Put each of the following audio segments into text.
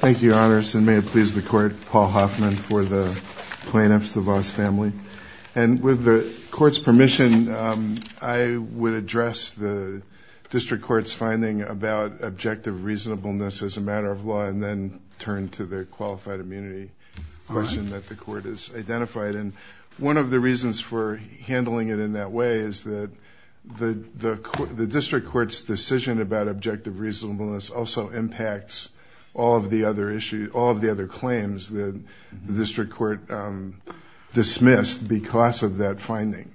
Thank you, Your Honors, and may it please the Court, Paul Hoffman for the plaintiffs, the Vos family. And with the Court's permission, I would address the District Court's finding about objective reasonableness as a matter of law and then turn to the qualified immunity question that the Court has identified. And one of the reasons for handling it in that way is that the District Court's decision about objective reasonableness also impacts all of the other claims that the District Court dismissed because of that finding.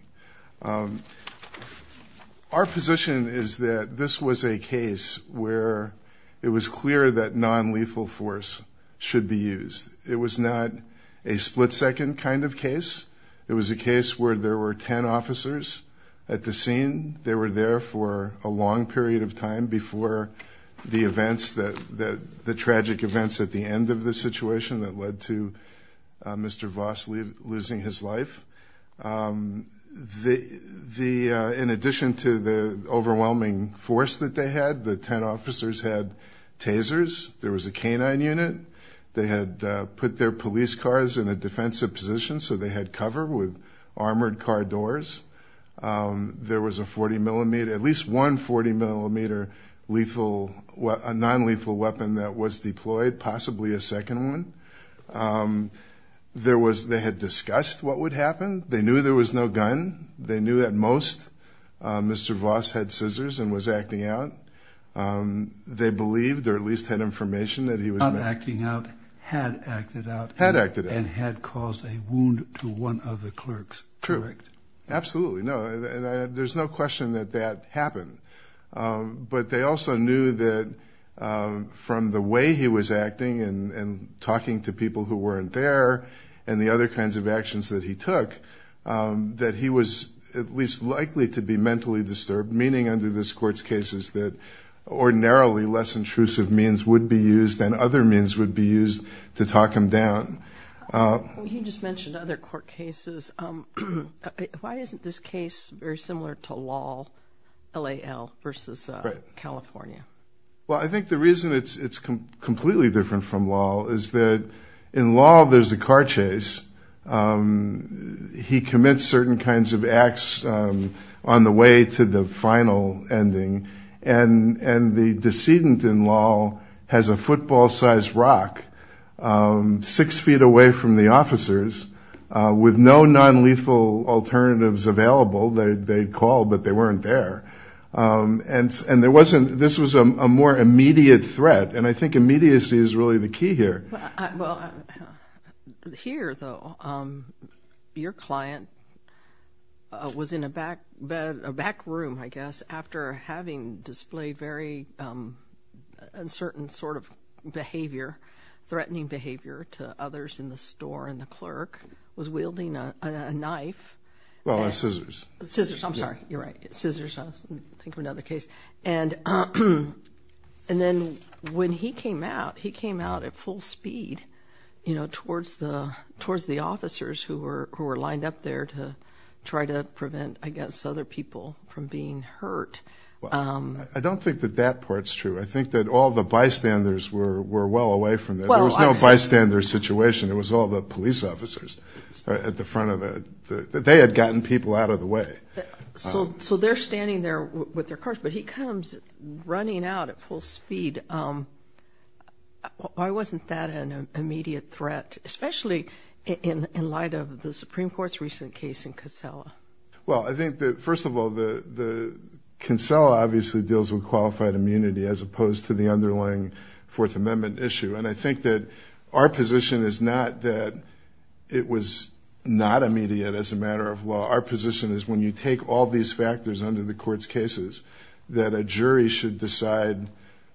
Our position is that this was a case where it was clear that nonlethal force should be used. It was not a split-second kind of case. It was a case where there were 10 officers at the scene. They were there for a long period of time before the tragic events at the end of the situation that led to Mr. Vos losing his life. In addition to the overwhelming force that they had, the 10 officers had tasers. There was a canine unit. They had put their police cars in a defensive position so they had cover with armored car doors. There was a 40-millimeter, at least one 40-millimeter lethal, nonlethal weapon that was deployed, possibly a second one. They had discussed what would happen. They knew there was no gun. They knew at most Mr. Vos had scissors and was acting out. They believed or at least had information that he was not acting out, had acted out, and had caused a wound to one of the clerks. True. Absolutely. There's no question that that happened. But they also knew that from the way he was acting and talking to people who weren't there and the other kinds of actions that he took, that he was at least likely to be mentally disturbed, meaning under this Court's cases that ordinarily less intrusive means would be used and other means would be used to talk him down. You just mentioned other court cases. Why isn't this case very similar to Lal, L-A-L, versus California? Well, I think the reason it's completely different from Lal is that in Lal there's a car chase. He commits certain kinds of acts on the way to the final ending, and the decedent in Lal has a football-sized rock six feet away from the officers with no nonlethal alternatives available. They'd call, but they weren't there. And this was a more immediate threat, and I think immediacy is really the key here. Well, here, though, your client was in a back room, I guess, after having displayed very uncertain sort of behavior, threatening behavior to others in the store, and the clerk was wielding a knife. Well, scissors. Scissors. I'm sorry. You're right. Scissors. I was thinking of another case. And then when he came out, he came out at full speed, you know, towards the officers who were lined up there to try to prevent, I guess, other people from being hurt. I don't think that that part's true. I think that all the bystanders were well away from there. There was no bystander situation. It was all the police officers at the front of the – they had gotten people out of the way. So they're standing there with their cars, but he comes running out at full speed. Why wasn't that an immediate threat, especially in light of the Supreme Court's recent case in Cancela? Well, I think that, first of all, Cancela obviously deals with qualified immunity as opposed to the underlying Fourth Amendment issue. And I think that our position is not that it was not immediate as a matter of law. Our position is when you take all these factors under the court's cases that a jury should decide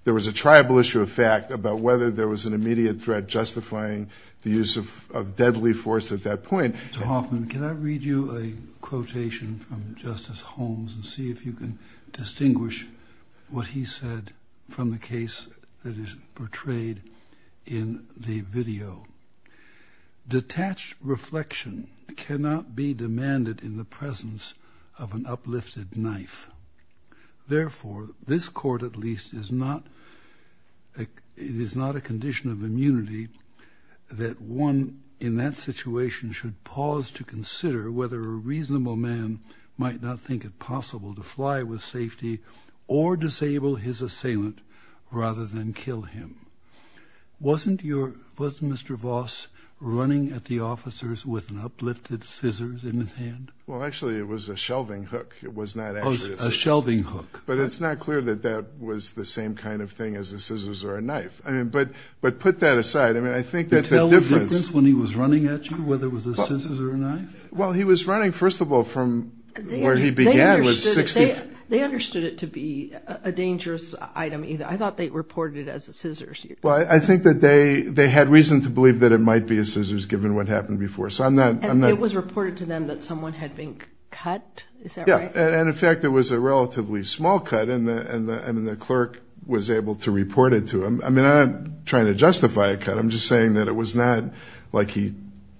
there was a tribal issue of fact about whether there was an immediate threat justifying the use of deadly force at that point. Mr. Hoffman, can I read you a quotation from Justice Holmes and see if you can distinguish what he said from the case that is portrayed in the video? Detached reflection cannot be demanded in the presence of an uplifted knife. Therefore, this court at least is not – it is not a condition of immunity that one in that situation should pause to consider whether a reasonable man might not think it possible to fly with safety or disable his assailant rather than kill him. Wasn't your – was Mr. Voss running at the officers with an uplifted scissors in his hand? Well, actually, it was a shelving hook. It was not actually a scissor. Oh, a shelving hook. But it's not clear that that was the same kind of thing as a scissors or a knife. I mean, but put that aside, I mean, I think that the difference – Can you tell the difference when he was running at you whether it was a scissors or a knife? Well, he was running, first of all, from where he began was 60 – They understood it to be a dangerous item either. I thought they reported it as a scissors. Well, I think that they had reason to believe that it might be a scissors given what happened before. So I'm not – And it was reported to them that someone had been cut. Is that right? Yeah, and in fact, it was a relatively small cut, and the clerk was able to report it to him. I mean, I'm not trying to justify a cut. I'm just saying that it was not like he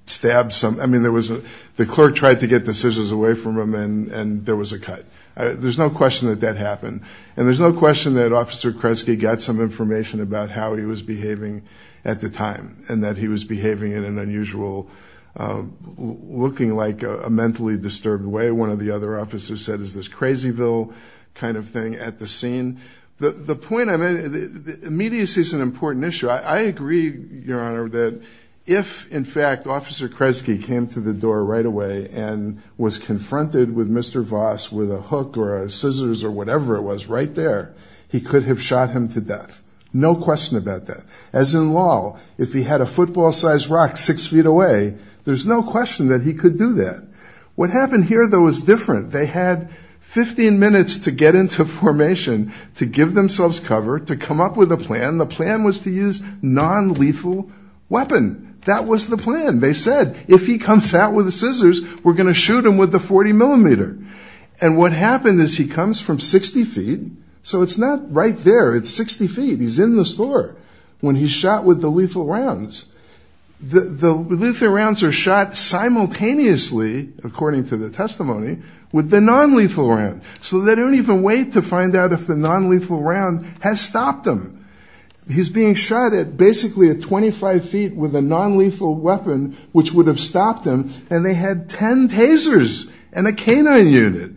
stabbed some – I mean, there was a – the clerk tried to get the scissors away from him, and there was a cut. There's no question that that happened. And there's no question that Officer Kresge got some information about how he was behaving at the time and that he was behaving in an unusual – looking like a mentally disturbed way. One of the other officers said, is this crazyville kind of thing at the scene. The point I'm – immediacy is an important issue. I agree, Your Honor, that if, in fact, Officer Kresge came to the door right away and was confronted with Mr. Voss with a hook or scissors or whatever it was right there, he could have shot him to death. No question about that. As in law, if he had a football-sized rock six feet away, there's no question that he could do that. What happened here, though, was different. They had 15 minutes to get into formation, to give themselves cover, to come up with a plan. The plan was to use nonlethal weapon. That was the plan. They said, if he comes out with the scissors, we're going to shoot him with the 40 millimeter. And what happened is he comes from 60 feet. So it's not right there. It's 60 feet. He's in the store when he's shot with the lethal rounds. The lethal rounds are shot simultaneously, according to the testimony, with the nonlethal round. So they don't even wait to find out if the nonlethal round has stopped him. He's being shot at basically at 25 feet with a nonlethal weapon, which would have stopped him, and they had 10 tasers and a canine unit.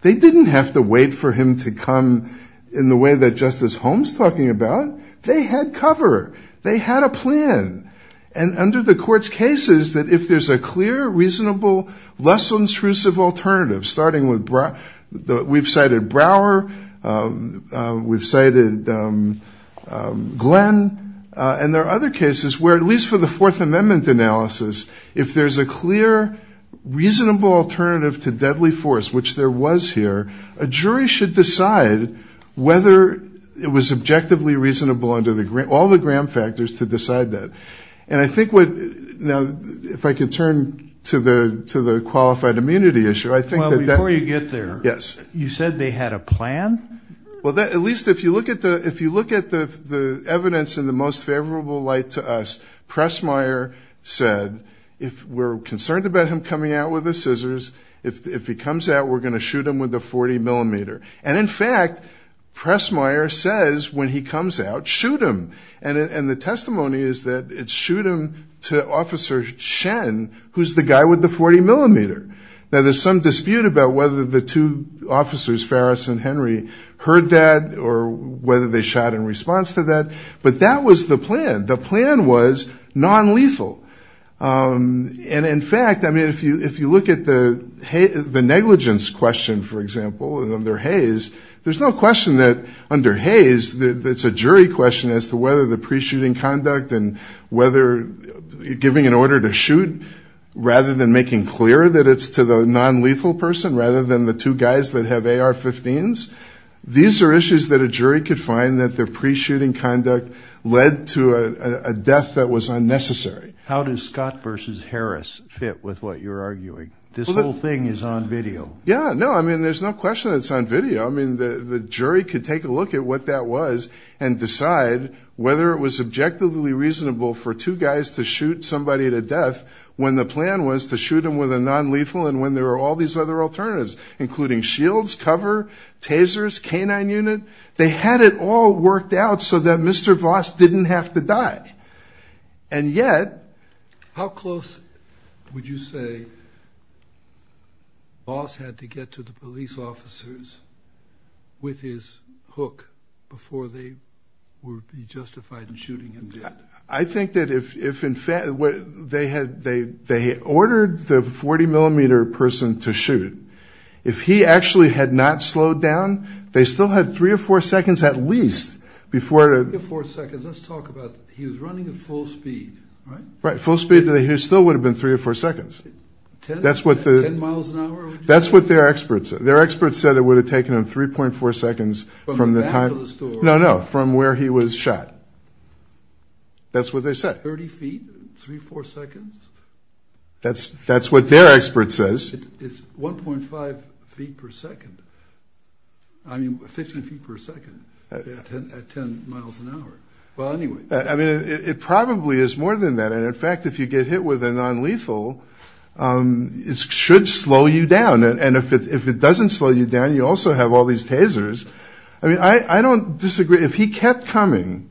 They didn't have to wait for him to come in the way that Justice Holmes is talking about. They had cover. They had a plan. And under the court's case, if there's a clear, reasonable, less intrusive alternative, starting with we've cited Brower, we've cited Glenn, and there are other cases where, at least for the Fourth Amendment analysis, if there's a clear, reasonable alternative to deadly force, which there was here, a jury should decide whether it was objectively reasonable under all the Graham factors to decide that. Now, if I can turn to the qualified immunity issue, I think that that... Well, before you get there, you said they had a plan? Well, at least if you look at the evidence in the most favorable light to us, Pressmeier said, if we're concerned about him coming out with the scissors, if he comes out, we're going to shoot him with a 40-millimeter. And, in fact, Pressmeier says, when he comes out, shoot him. And the testimony is that it's shoot him to Officer Shen, who's the guy with the 40-millimeter. Now, there's some dispute about whether the two officers, Ferris and Henry, heard that or whether they shot in response to that, but that was the plan. The plan was nonlethal. And, in fact, I mean, if you look at the negligence question, for example, under Hayes, there's no question that under Hayes, it's a jury question as to whether the pre-shooting conduct and whether giving an order to shoot rather than making clear that it's to the nonlethal person rather than the two guys that have AR-15s, these are issues that a jury could find that their pre-shooting conduct led to a death that was unnecessary. How does Scott versus Harris fit with what you're arguing? This whole thing is on video. Yeah, no, I mean, there's no question it's on video. I mean, the jury could take a look at what that was and decide whether it was objectively reasonable for two guys to shoot somebody to death when the plan was to shoot them with a nonlethal and when there were all these other alternatives, including shields, cover, tasers, canine unit. They had it all worked out so that Mr. Voss didn't have to die. And yet, how close would you say Voss had to get to the police officers with his hook before they would be justified in shooting him dead? I think that if in fact they ordered the 40-millimeter person to shoot, if he actually had not slowed down, they still had three or four seconds at least before... Three or four seconds, let's talk about he was running at full speed, right? Right, full speed, he still would have been three or four seconds. Ten miles an hour? That's what their experts said. Their experts said it would have taken him 3.4 seconds from the time... From the back of the store? No, no, from where he was shot. That's what they said. 30 feet, three or four seconds? That's what their expert says. It's 1.5 feet per second. I mean, 15 feet per second at 10 miles an hour. Well, anyway. I mean, it probably is more than that. And in fact, if you get hit with a nonlethal, it should slow you down. And if it doesn't slow you down, you also have all these tasers. I mean, I don't disagree. If he kept coming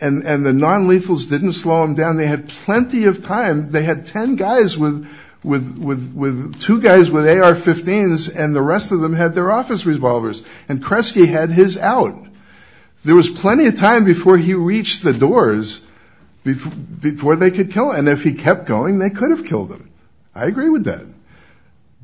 and the nonlethals didn't slow him down, they had plenty of time. They had ten guys with two guys with AR-15s, and the rest of them had their office revolvers. And Kresge had his out. There was plenty of time before he reached the doors before they could kill him. And if he kept going, they could have killed him. I agree with that.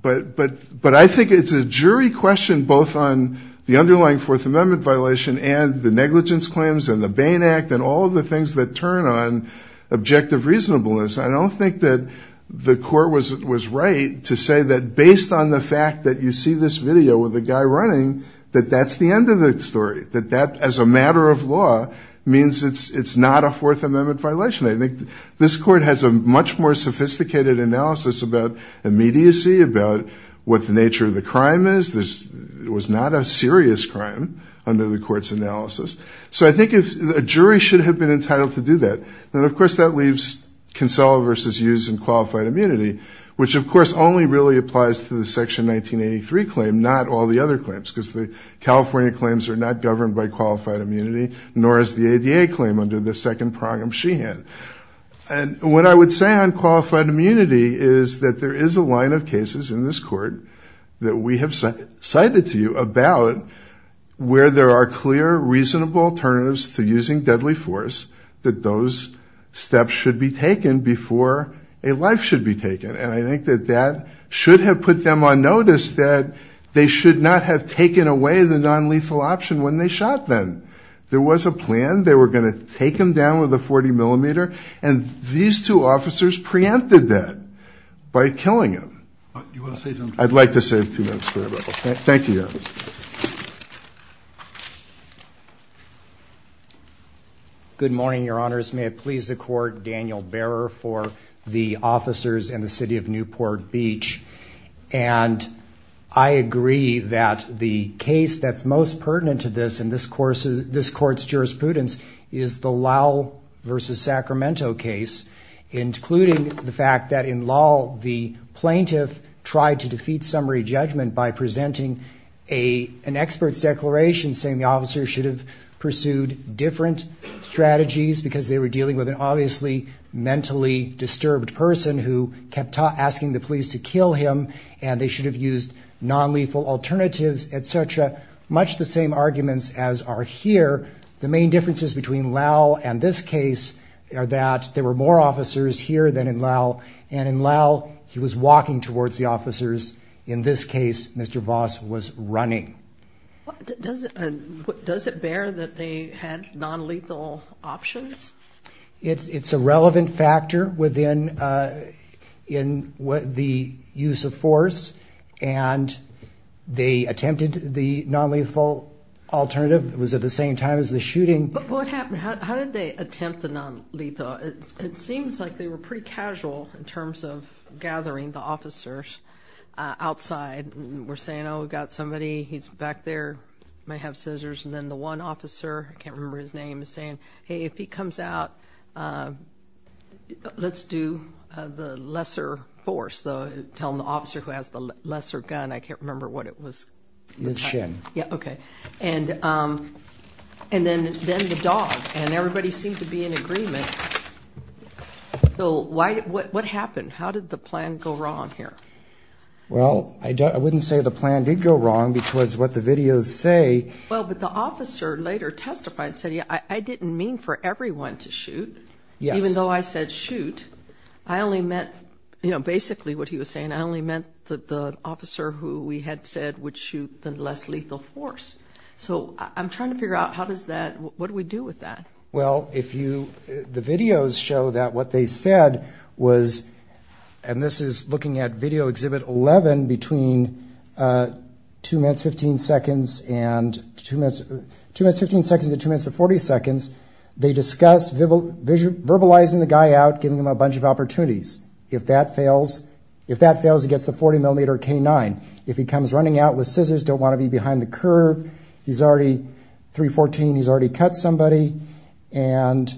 But I think it's a jury question both on the underlying Fourth Amendment violation and the negligence claims and the Bain Act and all of the things that turn on objective reasonableness. I don't think that the court was right to say that based on the fact that you see this video with a guy running, that that's the end of the story, that that, as a matter of law, means it's not a Fourth Amendment violation. I think this court has a much more sophisticated analysis about immediacy, about what the nature of the crime is. It was not a serious crime under the court's analysis. So I think a jury should have been entitled to do that. And, of course, that leaves Kinsella v. Hughes and qualified immunity, which, of course, only really applies to the Section 1983 claim, not all the other claims, because the California claims are not governed by qualified immunity, nor is the ADA claim under the second prong of Sheehan. And what I would say on qualified immunity is that there is a line of cases in this court that we have cited to you about where there are clear, reasonable alternatives to using deadly force that those steps should be taken before a life should be taken. And I think that that should have put them on notice that they should not have taken away the nonlethal option when they shot them. There was a plan. They were going to take him down with a 40-millimeter, and these two officers preempted that by killing him. I'd like to save two minutes for that. Thank you, Your Honor. Good morning, Your Honors. May it please the Court, Daniel Behrer for the officers in the city of Newport Beach. And I agree that the case that's most pertinent to this and this Court's jurisprudence is the Lowell v. Sacramento case, including the fact that in Lowell the plaintiff tried to defeat summary judgment by presenting an expert's declaration saying the officers should have pursued different strategies because they were dealing with an obviously mentally disturbed person who kept asking the police to kill him, and they should have used nonlethal alternatives, et cetera, much the same arguments as are here. The main differences between Lowell and this case are that there were more officers here than in Lowell, and in Lowell he was walking towards the officers. In this case, Mr. Voss was running. Does it bear that they had nonlethal options? It's a relevant factor within the use of force, and they attempted the nonlethal alternative. It was at the same time as the shooting. But what happened? How did they attempt the nonlethal? It seems like they were pretty casual in terms of gathering the officers outside. We're saying, oh, we've got somebody. He's back there. He may have scissors. And then the one officer, I can't remember his name, is saying, hey, if he comes out, let's do the lesser force. Tell him the officer who has the lesser gun. I can't remember what it was. Liz Shin. Yeah, okay. And then the dog. And everybody seemed to be in agreement. So what happened? How did the plan go wrong here? Well, I wouldn't say the plan did go wrong because what the videos say. Well, but the officer later testified and said, yeah, I didn't mean for everyone to shoot. Yes. Even though I said shoot, I only meant, you know, basically what he was saying, I only meant that the officer who we had said would shoot the less lethal force. So I'm trying to figure out how does that, what do we do with that? Well, if you, the videos show that what they said was, and this is looking at Video Exhibit 11, between two minutes, 15 seconds and two minutes to 40 seconds, they discuss verbalizing the guy out, giving him a bunch of opportunities. If that fails, if that fails, he gets the 40 millimeter K-9. If he comes running out with scissors, don't want to be behind the curve. He's already 314. He's already cut somebody. And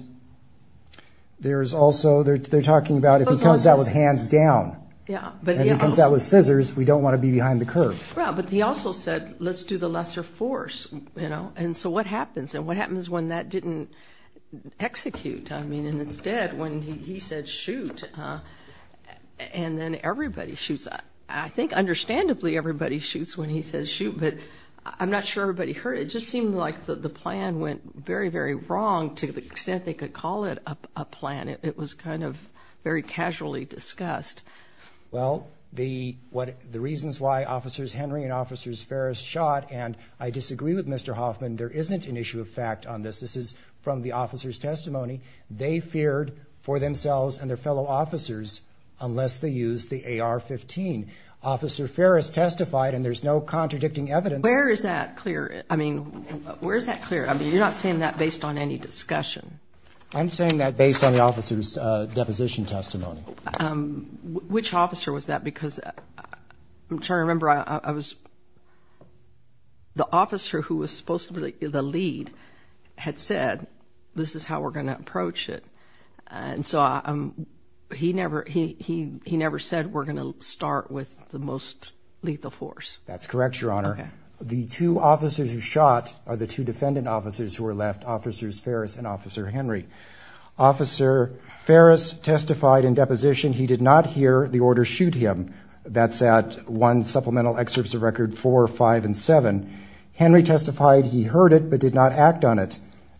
there's also, they're talking about if he comes out with hands down. Yeah. If he comes out with scissors, we don't want to be behind the curve. Yeah, but he also said, let's do the lesser force, you know. And so what happens? And what happens when that didn't execute? I mean, and instead when he said shoot, and then everybody shoots. I think understandably everybody shoots when he says shoot, but I'm not sure everybody heard. It just seemed like the plan went very, very wrong to the extent they could call it a plan. It was kind of very casually discussed. Well, the reasons why Officers Henry and Officers Ferris shot, and I disagree with Mr. Hoffman, there isn't an issue of fact on this. This is from the officer's testimony. They feared for themselves and their fellow officers unless they used the AR-15. Officer Ferris testified, and there's no contradicting evidence. Where is that clear? I mean, where is that clear? I mean, you're not saying that based on any discussion. I'm saying that based on the officer's deposition testimony. Which officer was that? I'm trying to remember. The officer who was supposed to be the lead had said, this is how we're going to approach it. And so he never said we're going to start with the most lethal force. That's correct, Your Honor. The two officers who shot are the two defendant officers who were left, Officers Ferris and Officer Henry. Officer Ferris testified in deposition he did not hear the order shoot him. That's at 1 supplemental excerpts of record 4, 5, and 7. Henry testified he heard it but did not act on it.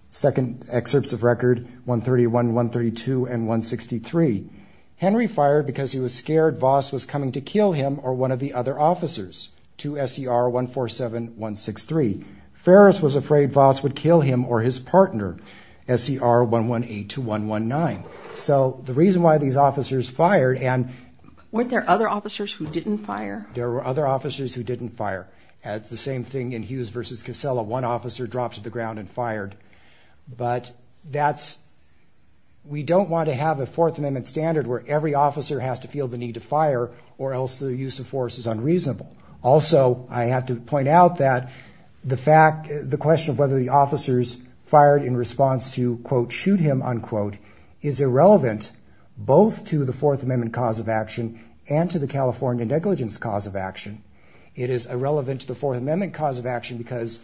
Second excerpts of record 131, 132, and 163. Henry fired because he was scared Voss was coming to kill him or one of the other officers. To SER 147163. Ferris was afraid Voss would kill him or his partner. SER 1182119. So the reason why these officers fired and... Weren't there other officers who didn't fire? There were other officers who didn't fire. It's the same thing in Hughes v. Casella. One officer dropped to the ground and fired. But that's... We don't want to have a Fourth Amendment standard where every officer has to feel the need to fire or else the use of force is unreasonable. Also, I have to point out that the fact... The question of whether the officers fired in response to, quote, shoot him, unquote, is irrelevant both to the Fourth Amendment cause of action and to the California negligence cause of action. It is irrelevant to the Fourth Amendment cause of action because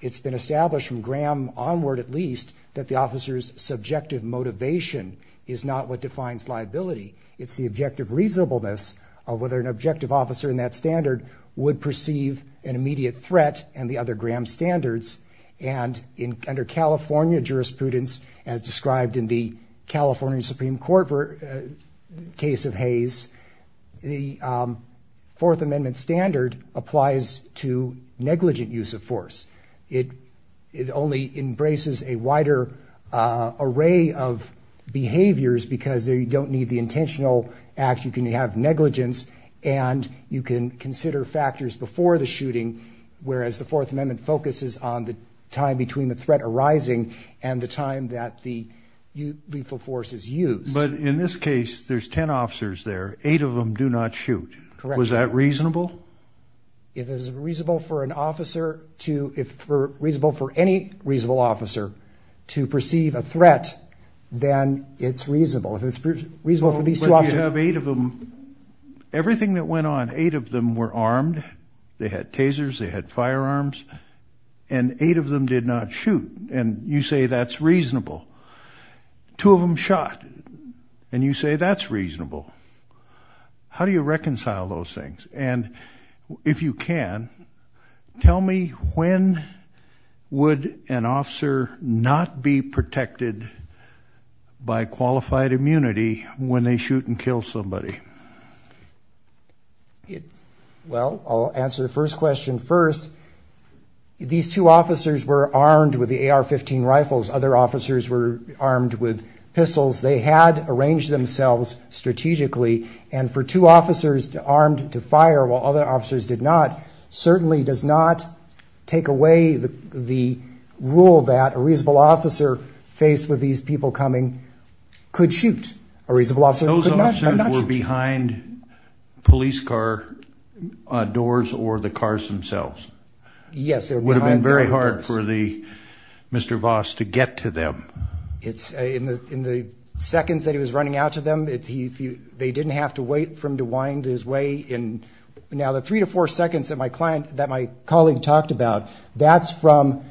it's been established from Graham onward at least that the officer's subjective motivation is not what defines liability. It's the objective reasonableness of whether an objective officer in that standard would perceive an immediate threat and the other Graham standards. And under California jurisprudence, as described in the California Supreme Court case of Hayes, the Fourth Amendment standard applies to negligent use of force. It only embraces a wider array of behaviors because you don't need the intentional act. You can have negligence and you can consider factors before the shooting, whereas the Fourth Amendment focuses on the time between the threat arising and the time that the lethal force is used. But in this case, there's 10 officers there. Eight of them do not shoot. Was that reasonable? If it was reasonable for an officer to... But you have eight of them. Everything that went on, eight of them were armed. They had tasers. They had firearms. And eight of them did not shoot. And you say that's reasonable. Two of them shot. And you say that's reasonable. How do you reconcile those things? And if you can, tell me, when would an officer not be protected by qualified immunity when they shoot and kill somebody? Well, I'll answer the first question first. These two officers were armed with the AR-15 rifles. Other officers were armed with pistols. They had arranged themselves strategically. And for two officers armed to fire while other officers did not certainly does not take away the rule that a reasonable officer faced with these people coming could shoot. A reasonable officer could not shoot. Those officers were behind police car doors or the cars themselves? Yes. It would have been very hard for Mr. Voss to get to them. In the seconds that he was running out to them, they didn't have to wait for him to wind his way. Now, the three to four seconds that my colleague talked about, that's from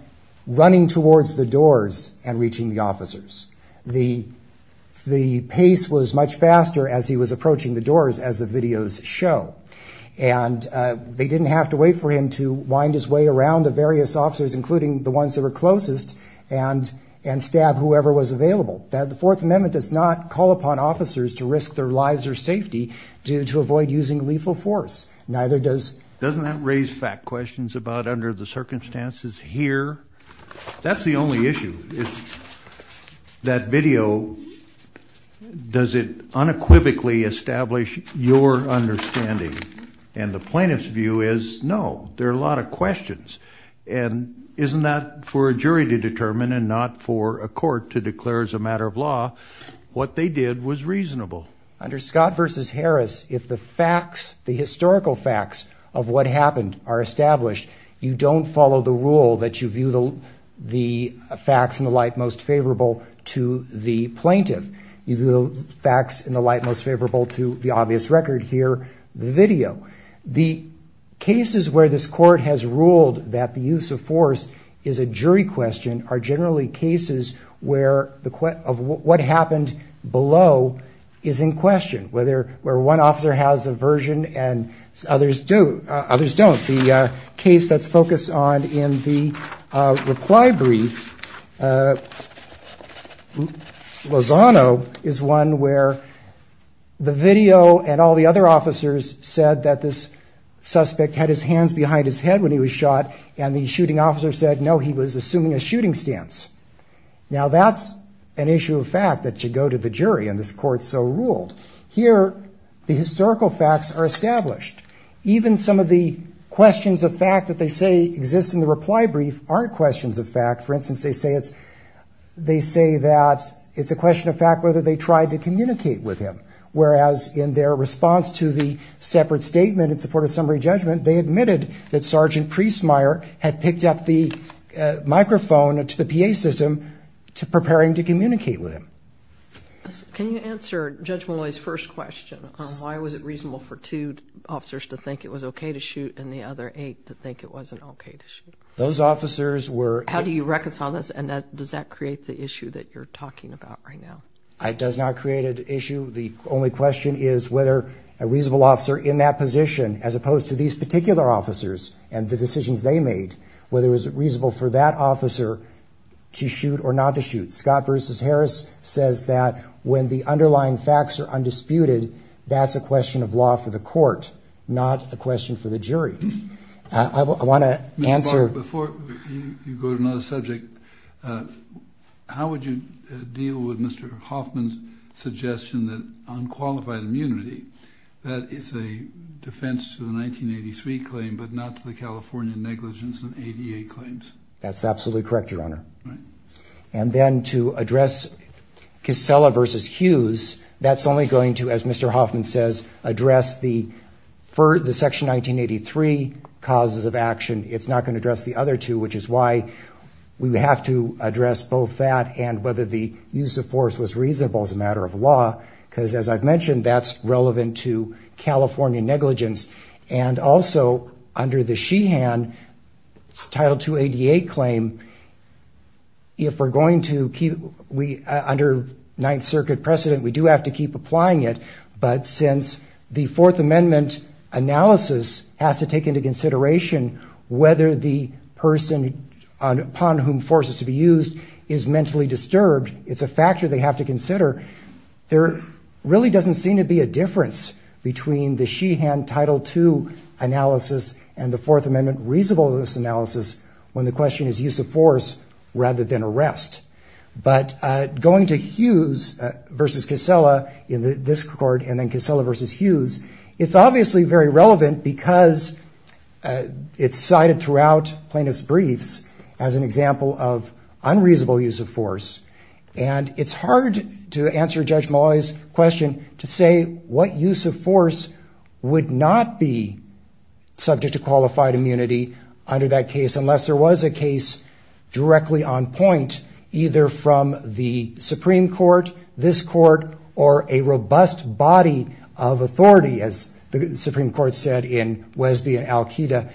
running towards the doors and reaching the officers. The pace was much faster as he was approaching the doors, as the videos show. And they didn't have to wait for him to wind his way around the various officers, including the ones that were closest, and stab whoever was available. The Fourth Amendment does not call upon officers to risk their lives or safety to avoid using lethal force. Neither does... Doesn't that raise fact questions about under the circumstances here? That's the only issue. That video, does it unequivocally establish your understanding? And the plaintiff's view is, no, there are a lot of questions. And isn't that for a jury to determine and not for a court to declare as a matter of law what they did was reasonable? Under Scott v. Harris, if the facts, the historical facts of what happened are established, you don't follow the rule that you view the facts in the light most favorable to the plaintiff. You view the facts in the light most favorable to the obvious record here, the video. generally cases where the... Of what happened below is in question, where one officer has a version and others don't. The case that's focused on in the reply brief, Lozano, is one where the video and all the other officers said that this suspect had his hands behind his head when he was shot, and the shooting officer said, no, he was assuming a shooting stance. Now that's an issue of fact that should go to the jury, and this court so ruled. Here, the historical facts are established. Even some of the questions of fact that they say exist in the reply brief aren't questions of fact. For instance, they say that it's a question of fact whether they tried to communicate with him. Whereas in their response to the separate statement in support of summary had picked up the microphone to the PA system to prepare him to communicate with him. Can you answer Judge Malloy's first question on why was it reasonable for two officers to think it was okay to shoot and the other eight to think it wasn't okay to shoot? Those officers were... How do you reconcile this, and does that create the issue that you're talking about right now? It does not create an issue. The only question is whether a reasonable officer in that position, as opposed to these particular officers and the decisions they made, whether it was reasonable for that officer to shoot or not to shoot. Scott versus Harris says that when the underlying facts are undisputed, that's a question of law for the court, not a question for the jury. I want to answer... Before you go to another subject, how would you deal with Mr. Hoffman's suggestion that unqualified immunity, that is a defense to the 1983 claim, but not to the California negligence and ADA claims? That's absolutely correct, Your Honor. And then to address Kissela versus Hughes, that's only going to, as Mr. Hoffman says, address the Section 1983 causes of action. It's not going to address the other two, which is why we would have to address both that and whether the use of force was reasonable as a matter of law, because as I've mentioned, that's relevant to California negligence. And also, under the Sheehan Title 2 ADA claim, if we're going to keep... Under Ninth Circuit precedent, we do have to keep applying it, but since the Fourth Amendment analysis has to take into consideration whether the person upon whom force is to be used is mentally disturbed, it's a factor they have to consider. There really doesn't seem to be a difference between the Sheehan Title 2 analysis and the Fourth Amendment reasonableness analysis when the question is use of force rather than arrest. But going to Hughes versus Kissela in this court and then Kissela versus Hughes, it's obviously very relevant because it's cited throughout plaintiff's briefs as an example of unreasonable use of force. And it's hard to answer Judge Malloy's question to say what use of force would not be subject to qualified immunity under that case unless there was a case directly on point, either from the Supreme Court, this court, or a robust body of authority, as the Supreme Court said in Wesby and Al-Qaeda,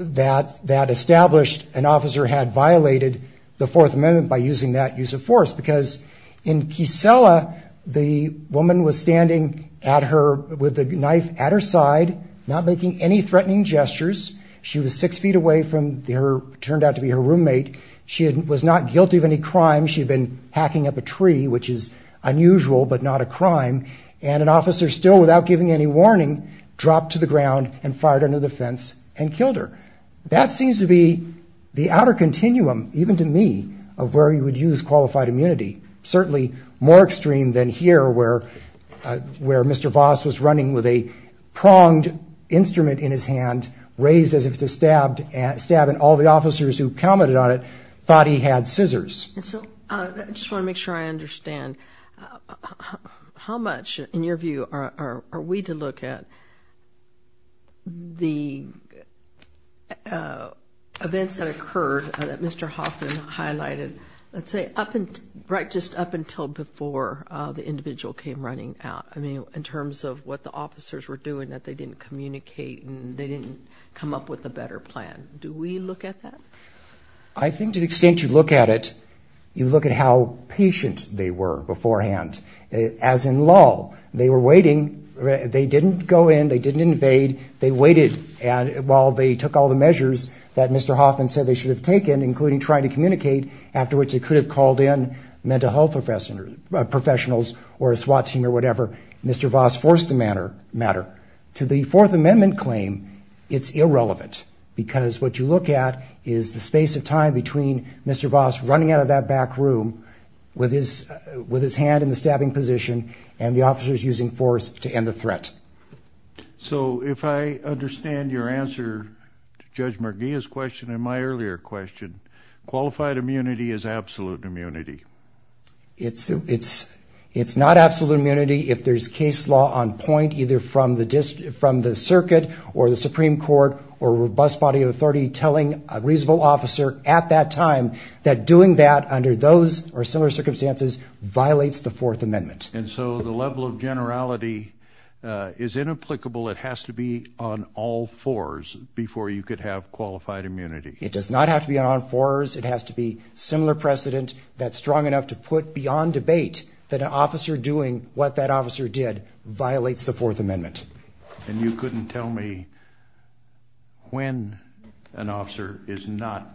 that established an officer had violated the Fourth Amendment by using that use of force because in Kissela, the woman was standing with the knife at her side, not making any threatening gestures. She was six feet away from what turned out to be her roommate. She was not guilty of any crime. She had been hacking up a tree, which is unusual but not a crime, and an officer, still without giving any warning, dropped to the ground and fired under the fence and killed her. That seems to be the outer continuum, even to me, of where you would use qualified immunity, certainly more extreme than here where Mr. Voss was running with a pronged instrument in his hand, raised as if to stab, and all the officers who commented on it thought he had scissors. I just want to make sure I understand. How much, in your view, are we to look at the events that occurred that Mr. Hoffman highlighted, let's say, right just up until before the individual came running out? I mean, in terms of what the officers were doing, that they didn't communicate and they didn't come up with a better plan. Do we look at that? I think to the extent you look at it, you look at how patient they were beforehand. As in law, they were waiting. They didn't go in, they didn't invade. They waited while they took all the measures that Mr. Hoffman said they should have taken, including trying to communicate, after which they could have called in mental health professionals or a SWAT team or whatever. Mr. Voss forced the matter. To the Fourth Amendment claim, it's irrelevant because what you look at is the space of time between Mr. Voss running out of that back room and the officers using force to end the threat. So if I understand your answer to Judge Merguia's question and my earlier question, qualified immunity is absolute immunity. It's not absolute immunity if there's case law on point, either from the circuit or the Supreme Court or a robust body of authority telling a reasonable officer at that time that doing that under those or similar circumstances violates the Fourth Amendment. And so the level of generality is inapplicable. It has to be on all fours before you could have qualified immunity. It does not have to be on all fours. It has to be similar precedent that's strong enough to put beyond debate that an officer doing what that officer did violates the Fourth Amendment. And you couldn't tell me when an officer is not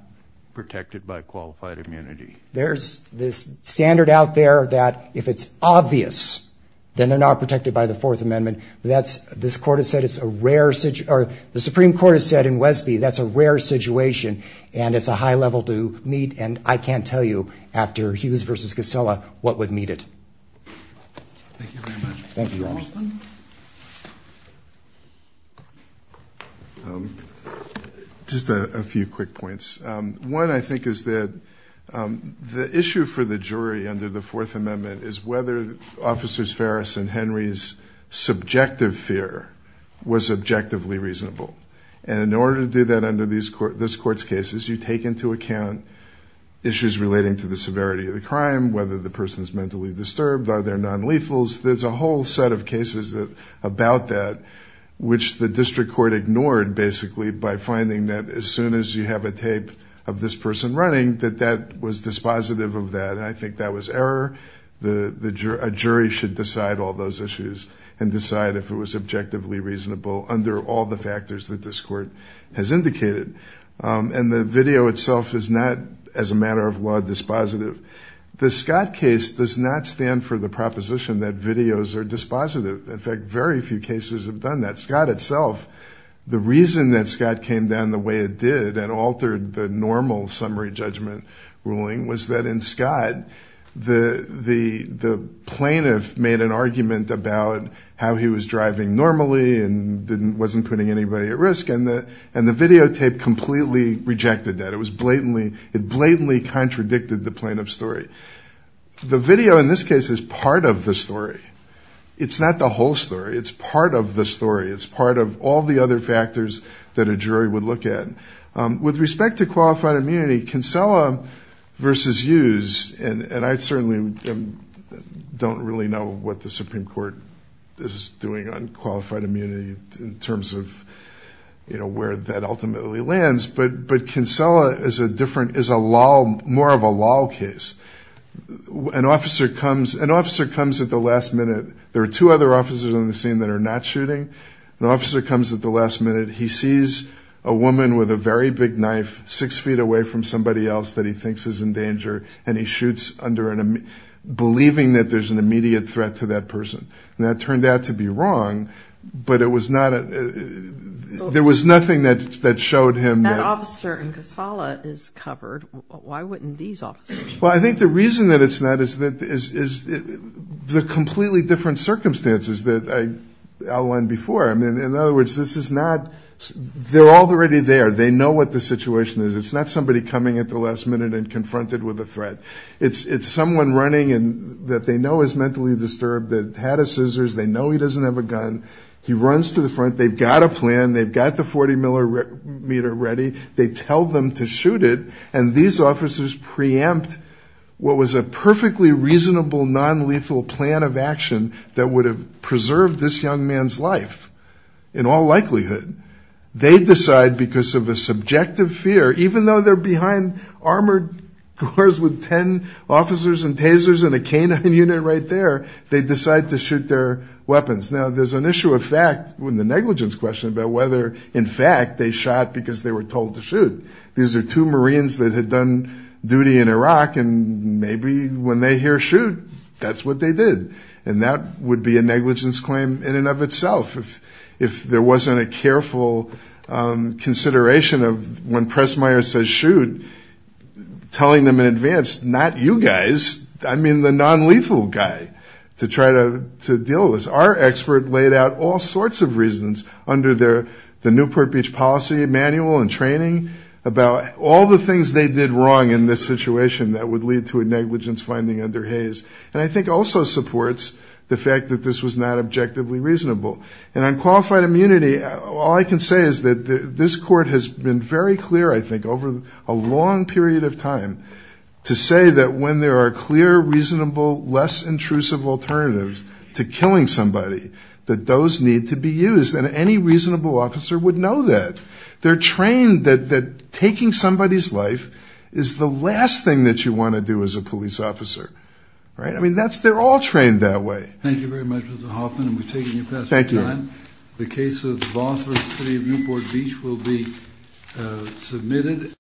protected by qualified immunity. There's this standard out there that if it's obvious then they're not protected by the Fourth Amendment. This Court has said it's a rare situation. The Supreme Court has said in Wesby that's a rare situation and it's a high level to meet and I can't tell you after Hughes v. Gossela what would meet it. Thank you very much. Thank you, Your Honor. Just a few quick points. One, I think, is that the issue for the jury under the Fourth Amendment is whether Officers Farris and Henry's subjective fear was objectively reasonable. And in order to do that under this Court's cases, you take into account issues relating to the severity of the crime, whether the person is mentally disturbed, are there nonlethals. There's a whole set of cases about that which the district court ignored, basically, by finding that as soon as you have a tape of this person running that that was dispositive of that. And I think that was error. A jury should decide all those issues and decide if it was objectively reasonable under all the factors that this Court has indicated. And the video itself is not, as a matter of law, dispositive. The Scott case does not stand for the proposition that videos are dispositive. In fact, very few cases have done that. In Scott itself, the reason that Scott came down the way it did and altered the normal summary judgment ruling was that in Scott the plaintiff made an argument about how he was driving normally and wasn't putting anybody at risk, and the videotape completely rejected that. It blatantly contradicted the plaintiff's story. The video, in this case, is part of the story. It's not the whole story. It's part of the story. It's part of all the other factors that a jury would look at. With respect to qualified immunity, Kinsella v. Hughes, and I certainly don't really know what the Supreme Court is doing on qualified immunity in terms of where that ultimately lands, but Kinsella is more of a law case. An officer comes at the last minute. There are two other officers on the scene that are not shooting. An officer comes at the last minute. He sees a woman with a very big knife six feet away from somebody else that he thinks is in danger, and he shoots believing that there's an immediate threat to that person. And that turned out to be wrong, but it was not a... There was nothing that showed him that... If the officer in Kinsella is covered, why wouldn't these officers be? Well, I think the reason that it's not is the completely different circumstances that I outlined before. In other words, this is not... They're already there. They know what the situation is. It's not somebody coming at the last minute and confronted with a threat. It's someone running that they know is mentally disturbed, that had his scissors, they know he doesn't have a gun. He runs to the front. They've got a plan. They've got the 40-millimeter ready. They tell them to shoot it, and these officers preempt what was a perfectly reasonable nonlethal plan of action that would have preserved this young man's life in all likelihood. They decide, because of a subjective fear, even though they're behind armored cars with ten officers and tasers and a canine unit right there, they decide to shoot their weapons. Now, there's an issue of fact in the negligence question about whether, in fact, they shot because they were told to shoot. These are two Marines that had done duty in Iraq, and maybe when they hear shoot, that's what they did. And that would be a negligence claim in and of itself. If there wasn't a careful consideration of when Pressmeier says shoot, telling them in advance, not you guys, I mean the nonlethal guy, to try to deal with this. Our expert laid out all sorts of reasons under the Newport Beach Policy Manual and training about all the things they did wrong in this situation that would lead to a negligence finding under Hays, and I think also supports the fact that this was not objectively reasonable. And on qualified immunity, all I can say is that this court has been very clear, I think, over a long period of time to say that when there are clear, reasonable, less intrusive alternatives to killing somebody, that those need to be used. And any reasonable officer would know that. They're trained that taking somebody's life is the last thing that you want to do as a police officer. I mean, they're all trained that way. Thank you very much, Mr. Hoffman, and we've taken your questions. Thank you. The case of Voss v. City of Newport Beach will be submitted.